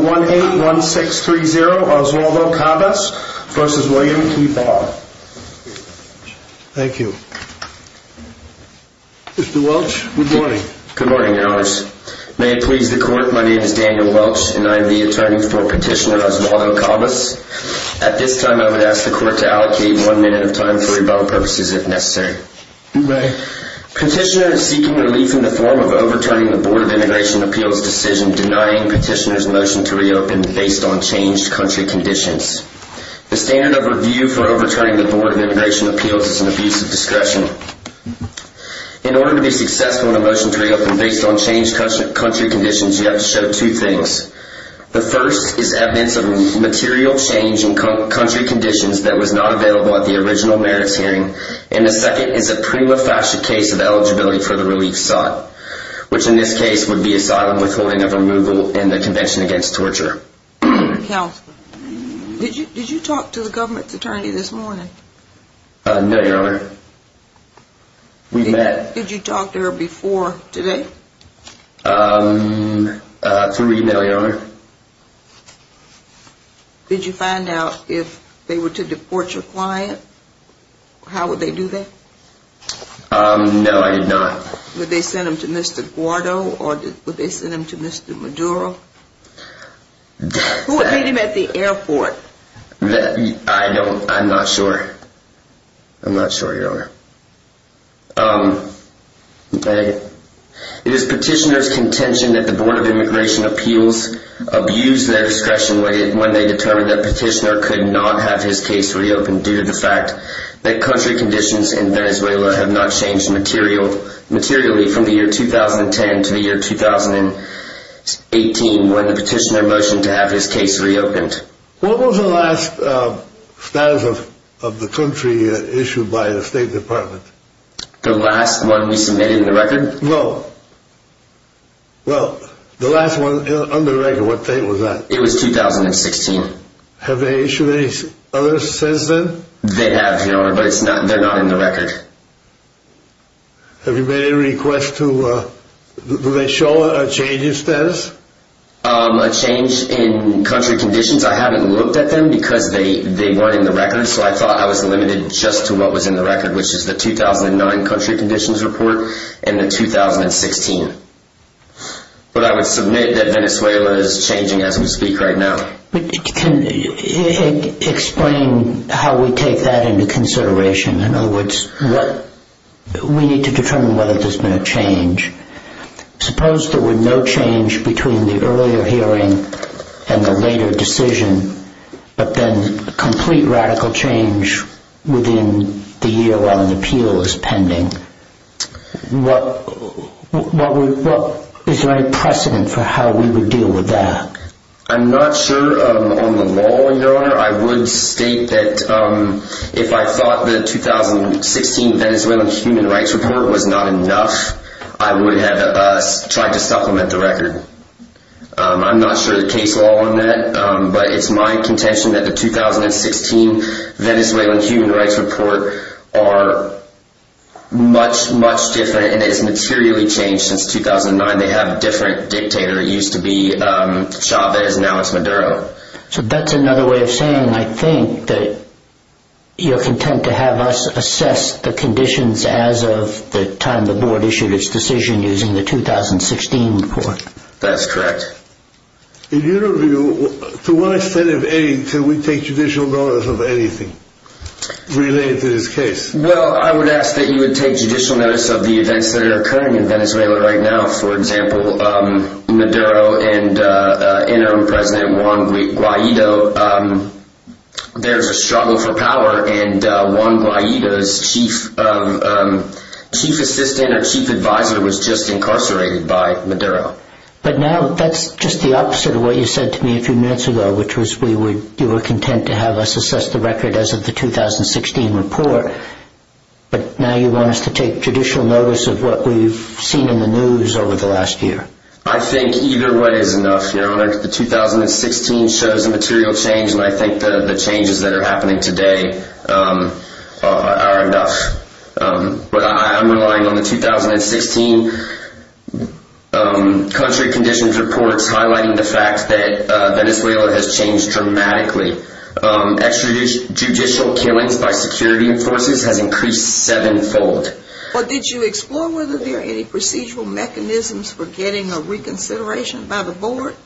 Mr. Welch, good morning. Good morning, Your Honors. May it please the Court, my name is Daniel Welch and I am the attorney for Petitioner Oswaldo Cabas. At this time, I would ask the Court to allocate one minute of time for rebuttal purposes, if necessary. You may. Petitioner is seeking relief in the form of overturning the Board of Immigration Appeals' decision denying Petitioner's motion to reopen based on changed country conditions. The standard of review for overturning the Board of Immigration Appeals is an abuse of discretion. In order to be successful in a motion to reopen based on changed country conditions, you have to show two things. The first is evidence of material change in country conditions that was not available at the original merits hearing, and the second is a prima facie case of eligibility for the relief sought, which in this case would be asylum with holding of removal in the Convention Against Torture. Counselor, did you talk to the government's attorney this morning? No, Your Honor. We met. Did you talk to her before today? Um, uh, through email, Your Honor. Did you find out if they were to deport your client? How would they do that? Um, no, I did not. Would they send him to Mr. Guado, or would they send him to Mr. Maduro? Who would meet him at the airport? I don't, I'm not sure. I'm not sure, Your Honor. Um, it is Petitioner's contention that the Board of Immigration Appeals abused their discretion when they determined that Petitioner could not have his case reopened due to the country conditions in Venezuela have not changed material, materially, from the year 2010 to the year 2018 when the Petitioner motioned to have his case reopened. What was the last, um, status of the country issued by the State Department? The last one we submitted in the record? No. Well, the last one on the record, what date was that? It was 2016. Have they issued any other says then? They have, Your Honor, but it's not, they're not in the record. Have you made any request to, uh, do they show a change in status? Um, a change in country conditions. I haven't looked at them because they, they weren't in the record. So I thought I was limited just to what was in the record, which is the 2009 country conditions report and the 2016. But I would submit that Venezuela is changing as we speak right now. But can you explain how we take that into consideration? In other words, what, we need to determine whether there's been a change. Suppose there were no change between the earlier hearing and the later decision, but then complete radical change within the year while an appeal is pending. What, what would, what, is there any precedent for how we would deal with that? I'm not sure, um, on the law, Your Honor, I would state that, um, if I thought the 2016 Venezuelan human rights report was not enough, I would have, uh, tried to supplement the record. Um, I'm not sure the case law on that. Um, but it's my contention that the 2016 Venezuelan human rights report are much, much different and it's materially changed since 2009. They have a different dictator. It used to be, um, Chavez and now it's Maduro. So that's another way of saying, I think, that you're content to have us assess the conditions as of the time the board issued its decision using the 2016 report. That's correct. In your view, to what extent of any, can we take judicial notice of anything related to this case? Well, I would ask that you would take judicial notice of the events that are occurring in Venezuela right now. For example, um, Maduro and, uh, interim president Juan Guaido, um, there's a struggle for power and, uh, Juan Guaido's chief, um, um, chief assistant or chief advisor was just incarcerated by Maduro. But now that's just the opposite of what you said to me a few minutes ago, which was we were, you were content to have us assess the record as of the 2016 report, but now you want us to take judicial notice of what we've seen in the news over the last year. I think either way is enough, Your Honor. The 2016 shows a material change and I think the changes that are happening today, um, are enough. Um, but I, I'm relying on the 2016, um, country conditions reports highlighting the fact that, uh, Venezuela has changed dramatically. Um, extrajudicial killings by security forces has increased sevenfold. Well, did you explore whether there are any procedural mechanisms for getting a reconsideration by the board?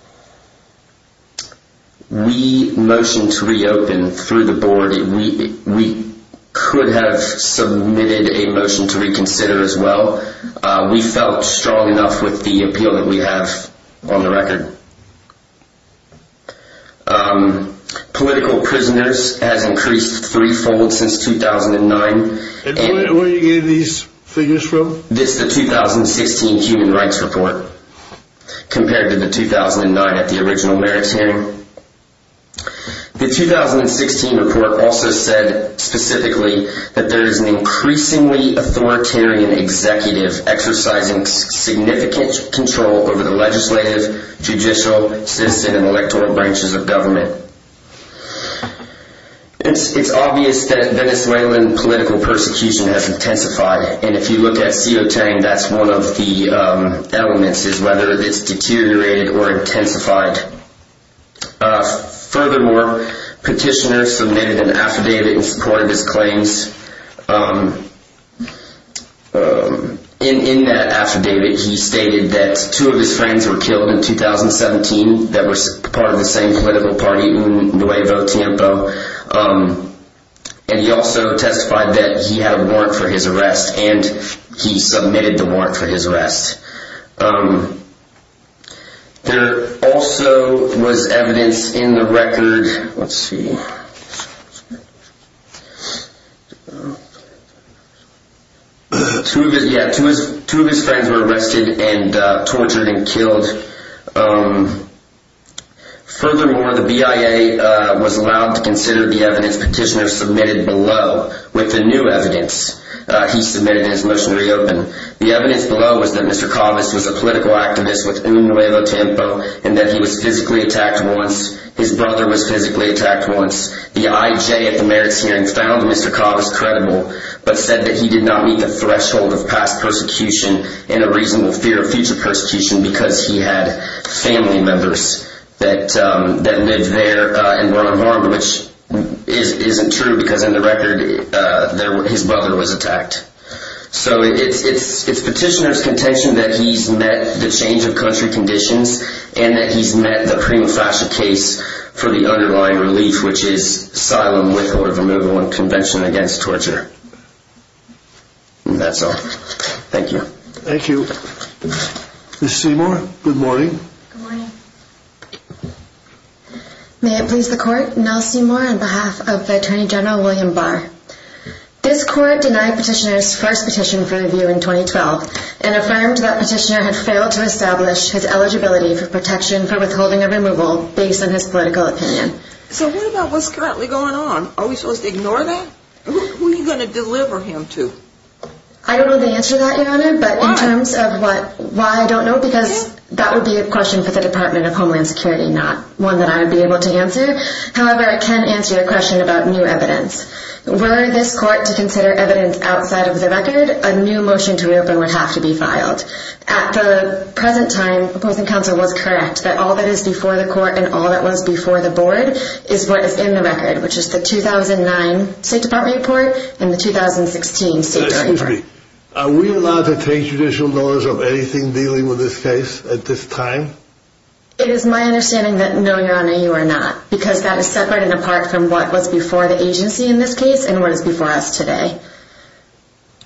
We motioned to reopen through the board. We, we could have submitted a motion to reconsider as well. Uh, we felt strong enough with the appeal that we have on the record. Um, political prisoners has increased threefold since 2009. And where are you getting these figures from? This, the 2016 human rights report compared to the 2009 at the original merits hearing. The 2016 report also said specifically that there is an increasingly authoritarian executive exercising significant control over the legislative, judicial, citizen, and electoral branches of government. It's obvious that Venezuelan political persecution has intensified. And if you look at CO10, that's one of the elements is whether it's deteriorated or intensified. Uh, furthermore, petitioner submitted an affidavit in support of his claims. Um, um, in, in that affidavit, he stated that two of his friends were killed in 2017 that were part of the same political party in Nuevo Tiempo. Um, and he also testified that he had a warrant for his arrest and he let's see. Two of his friends were arrested and tortured and killed. Um, furthermore, the BIA, uh, was allowed to consider the evidence petitioner submitted below with the new evidence he submitted in his motion to reopen. The evidence below was that Mr. Calvis was a political The IJ at the merits hearing found Mr. Calvis credible, but said that he did not meet the threshold of past persecution and a reasonable fear of future persecution because he had family members that, um, that lived there, uh, and were unharmed, which is, isn't true because in the record, uh, there were, his brother was attacked. So it's, it's, it's petitioner's contention that he's met the change of country conditions and that he's met the prima facie case for the underlying relief, which is asylum with or removal of convention against torture. And that's all. Thank you. Thank you. Good morning. May it please the court and I'll see more on behalf of attorney general William Barr. This court denied petitioners first petition for review in 2012 and affirmed that petitioner had failed to establish his eligibility for protection for withholding a removal based on his political opinion. So what about what's currently going on? Are we supposed to ignore that? Who are you going to deliver him to? I don't know the answer to that, your honor, but in terms of what, why I don't know, because that would be a question for the department of Homeland Security, not one that I would be able to answer. However, I can answer your question about new evidence. Were this court to consider evidence outside of the record, a new motion to reopen would have to be filed. At the present time, opposing counsel was correct that all that is before the court and all that was before the board is what is in the record, which is the 2009 state department report and the 2016 state. Are we allowed to take judicial notice of anything dealing with this case at this time? It is my understanding that no, your honor, you are not, because that is separate and apart from what was before the agency in this case and what is before us today.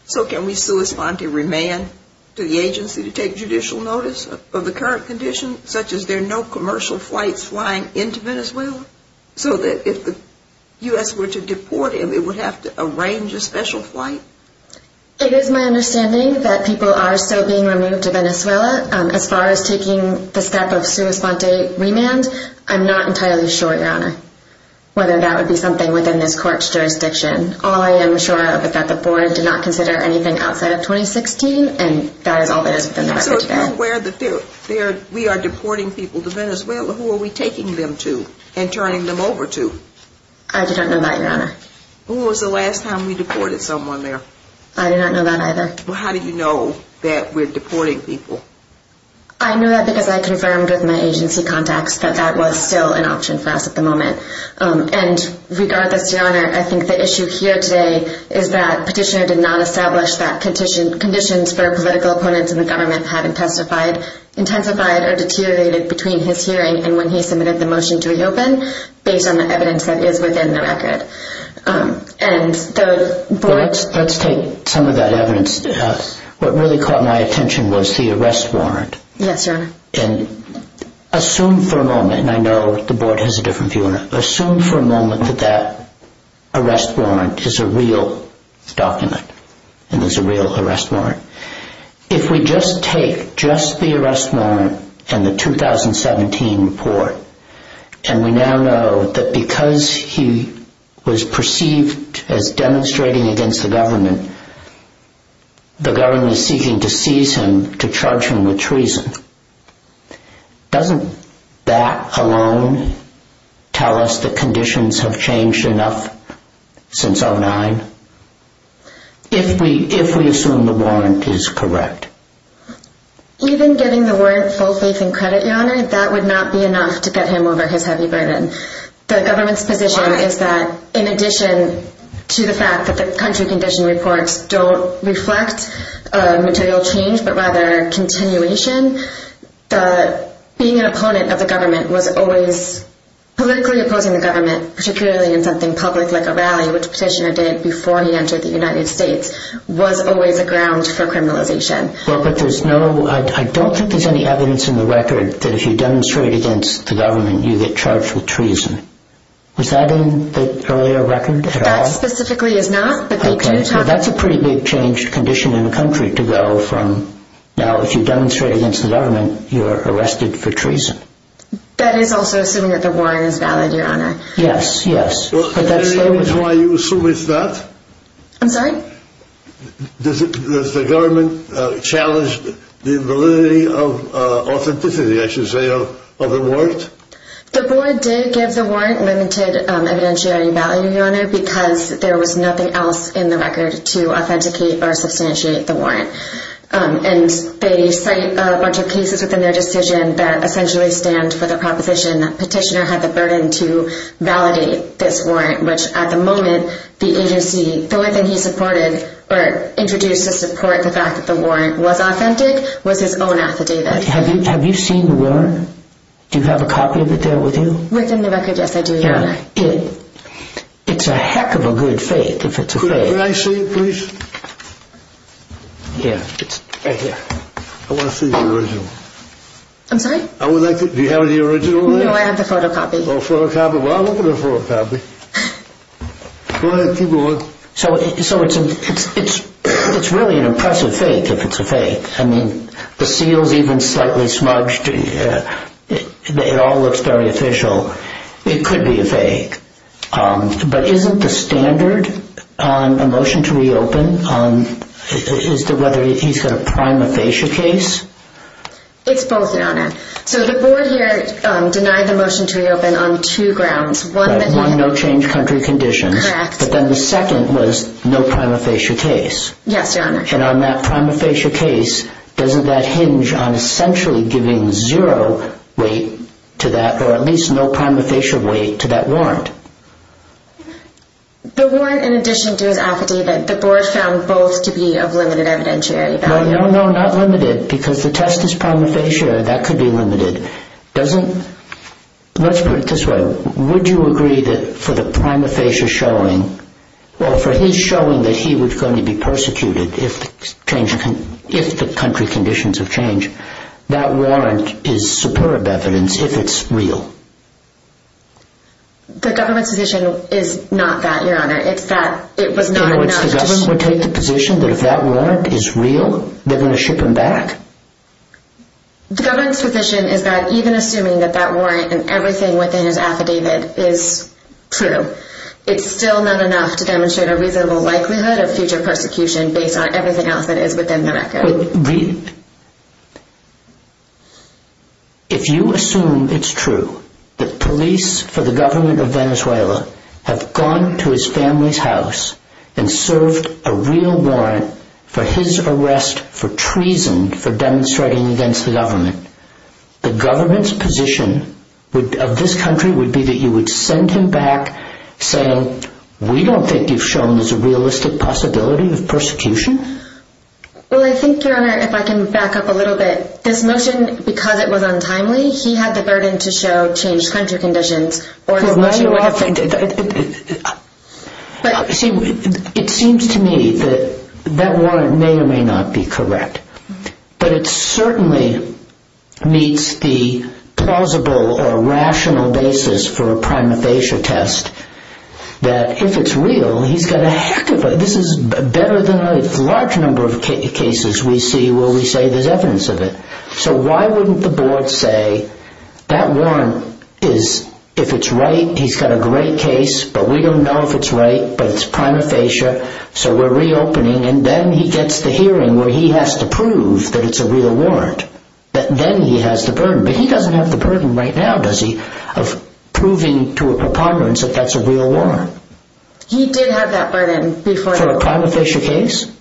So can we sui sponte remand to the agency to take judicial notice of the current condition, such as there are no commercial flights flying into Venezuela, so that if the U.S. were to deport him, it would have to arrange a special flight? It is my understanding that people are still being removed to Venezuela. As far as taking the step of sui sponte remand, I'm not entirely sure, your honor, whether that would be something within this court's jurisdiction. All I am sure of is that the board did not consider anything outside of 2016 and that is all that is within the record today. So if we are deporting people to Venezuela, who are we taking them to and turning them over to? I do not know that, your honor. Who was the last time we deported someone there? I do not know that either. Well, how do you know that we are deporting people? I know that because I confirmed with my agency contacts that that was still an option for us at the time. And regardless, your honor, I think the issue here today is that petitioner did not establish that conditions for political opponents in the government had intensified or deteriorated between his hearing and when he submitted the motion to reopen based on the evidence that is within the record. Let's take some of that evidence. What really caught my attention was the arrest warrant. Yes, your honor. Assume for a moment, and I know that the board has a different view on it, assume for a moment that that arrest warrant is a real document and is a real arrest warrant. If we just take just the arrest warrant and the 2017 report and we now know that because he was perceived as demonstrating against the government, the government is seeking to seize him to charge him with treason. Doesn't that alone tell us that conditions have changed enough since 2009? If we assume the warrant is correct. Even getting the warrant full faith and credit, your honor, that would not be enough to get him over his heavy burden. The government's position is that in addition to the fact that the country condition reports don't reflect material change, but rather a continuation, being an opponent of the government was always, politically opposing the government, particularly in something public like a rally, which Petitioner did before he entered the United States, was always a ground for criminalization. I don't think there's any evidence in the record that if you demonstrate against the government you get charged with treason. Was that in the earlier record at all? That specifically is a pretty big changed condition in the country to go from now if you demonstrate against the government, you're arrested for treason. That is also assuming that the warrant is valid, your honor. Yes, yes. Is that why you assume it's not? I'm sorry? Does the government challenge the validity of authenticity, I should say, of the warrant? The board did give the warrant limited evidentiary value, your honor, because there was nothing else in the record to authenticate or substantiate the warrant. And they cite a bunch of cases within their decision that essentially stand for the proposition that Petitioner had the burden to validate this warrant, which at the moment, the agency, the only thing he supported, or introduced to support the fact that the warrant was authentic, was his own Do you have a copy of it there with you? Within the record, yes, I do, your honor. It's a heck of a good fake, if it's a fake. Could I see it please? Yeah, it's right here. I want to see the original. I'm sorry? Do you have the original there? No, I have the photocopy. Oh, photocopy. Well, I'll look at the photocopy. Go ahead, keep going. So it's really an impressive fake, if it's a fake. I mean, the seal's even slightly smudged. It all looks very official. It could be a fake. But isn't the standard on a motion to reopen, is that whether he's got a prima facie case? It's both, your honor. So the board here denied the motion to reopen on two grounds. One, that he... One, no change country conditions. Correct. But then the prima facie case, doesn't that hinge on essentially giving zero weight to that, or at least no prima facie weight to that warrant? The warrant, in addition to his affidavit, the board found both to be of limited evidentiary value. No, no, no, not limited, because the test is prima facie, that could be limited. Doesn't... Let's put it this way. Would you agree that for the prima facie showing, well, for his showing that he was going to be persecuted if the country conditions have changed, that warrant is superb evidence if it's real? The government's position is not that, your honor. It's that it was not enough... In other words, the government would take the position that if that warrant is real, they're going to ship him back? The government's position is that even assuming that that warrant and everything within his record is true, it's still not enough to demonstrate a reasonable likelihood of future persecution based on everything else that is within the record. If you assume it's true that police for the government of Venezuela have gone to his family's house and served a real warrant for his arrest for treason for demonstrating against the government, the we don't think you've shown there's a realistic possibility of persecution? Well, I think, your honor, if I can back up a little bit, this motion, because it was untimely, he had the burden to show changed country conditions... It seems to me that that warrant may or may not be correct, but it certainly meets the plausible or rational basis for a prima facie test that if it's real, he's got a heck of a... This is better than a large number of cases we see where we say there's evidence of it. So why wouldn't the board say that warrant is, if it's right, he's got a great case, but we don't know if it's right, but it's prima facie, so we're reopening, and then he gets the hearing where he has to prove that it's a real warrant. Then he has the burden. But he doesn't have the burden right now, does he, of proving to a preponderance that that's a real warrant? He did have that burden before... For a prima facie case?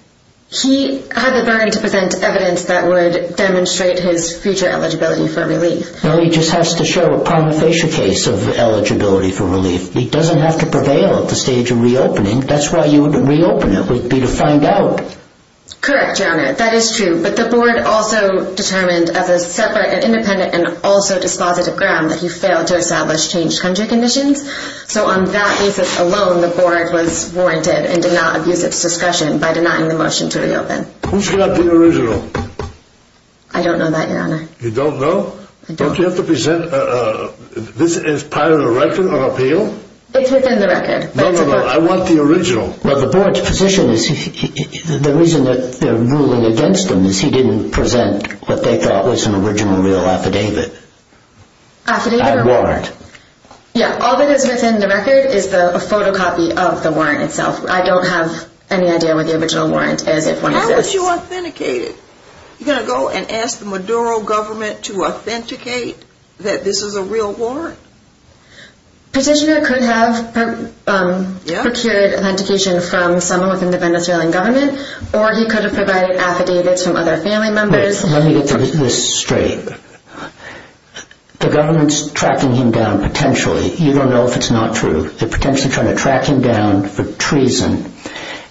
He had the burden to present evidence that would demonstrate his future eligibility for relief. No, he just has to show a prima facie case of eligibility for relief. He doesn't have to prevail at the stage of reopening. That's why you would reopen it, would be to find out. Correct, your honor, that is true, but the board also determined of a separate and independent and also dispositive ground that he failed to establish changed country conditions. So on that basis alone, the board was warranted and did not abuse its discretion by denying the motion to reopen. Who's got the original? I don't know that, your honor. You don't know? Don't you have to present... This is part of the record of appeal? It's within the record. No, no, no, I want the original. But the board's ruling against him is he didn't present what they thought was an original real affidavit. Affidavit or warrant? A warrant. Yeah, all that is within the record is a photocopy of the warrant itself. I don't have any idea what the original warrant is, if one exists. How would you authenticate it? You're going to go and ask the Maduro government to authenticate that this is a real warrant? Petitioner could have procured authentication from someone from the Venezuelan government, or he could have provided affidavits from other family members. Wait, let me get this straight. The government's tracking him down, potentially. You don't know if it's not true. They're potentially trying to track him down for treason,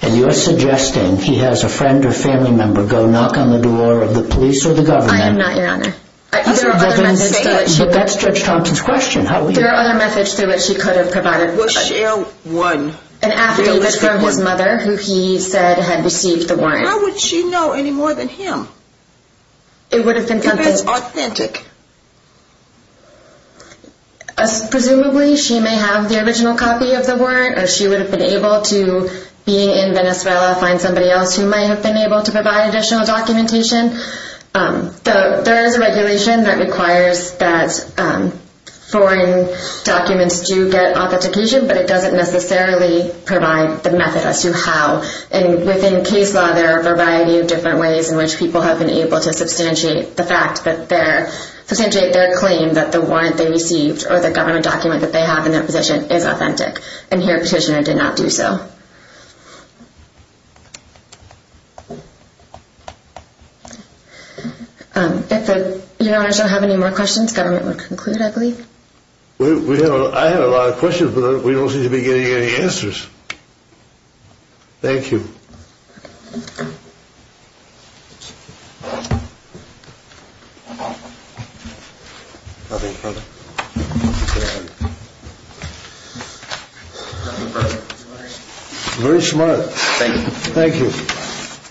and you're suggesting he has a friend or family member go knock on the door of the police or the government? I am not, your honor. But that's Judge Thompson's question. There are other methods through which he could have provided an affidavit from his mother, who he said had received the warrant. How would she know any more than him? If it's authentic? Presumably, she may have the original copy of the warrant, or she would have been able to, being in Venezuela, find somebody else who might have been able to provide additional documentation. There is a regulation that requires that foreign documents do get authentication, but it doesn't necessarily provide the method as to how. Within case law, there are a variety of different ways in which people have been able to substantiate their claim that the warrant they received or the government document that they have in their position is authentic. And here, Petitioner did not do so. If your honors don't have any more questions, government will conclude, I believe. I have a lot of questions, but we don't seem to be getting any answers. Thank you. Very smart. Thank you.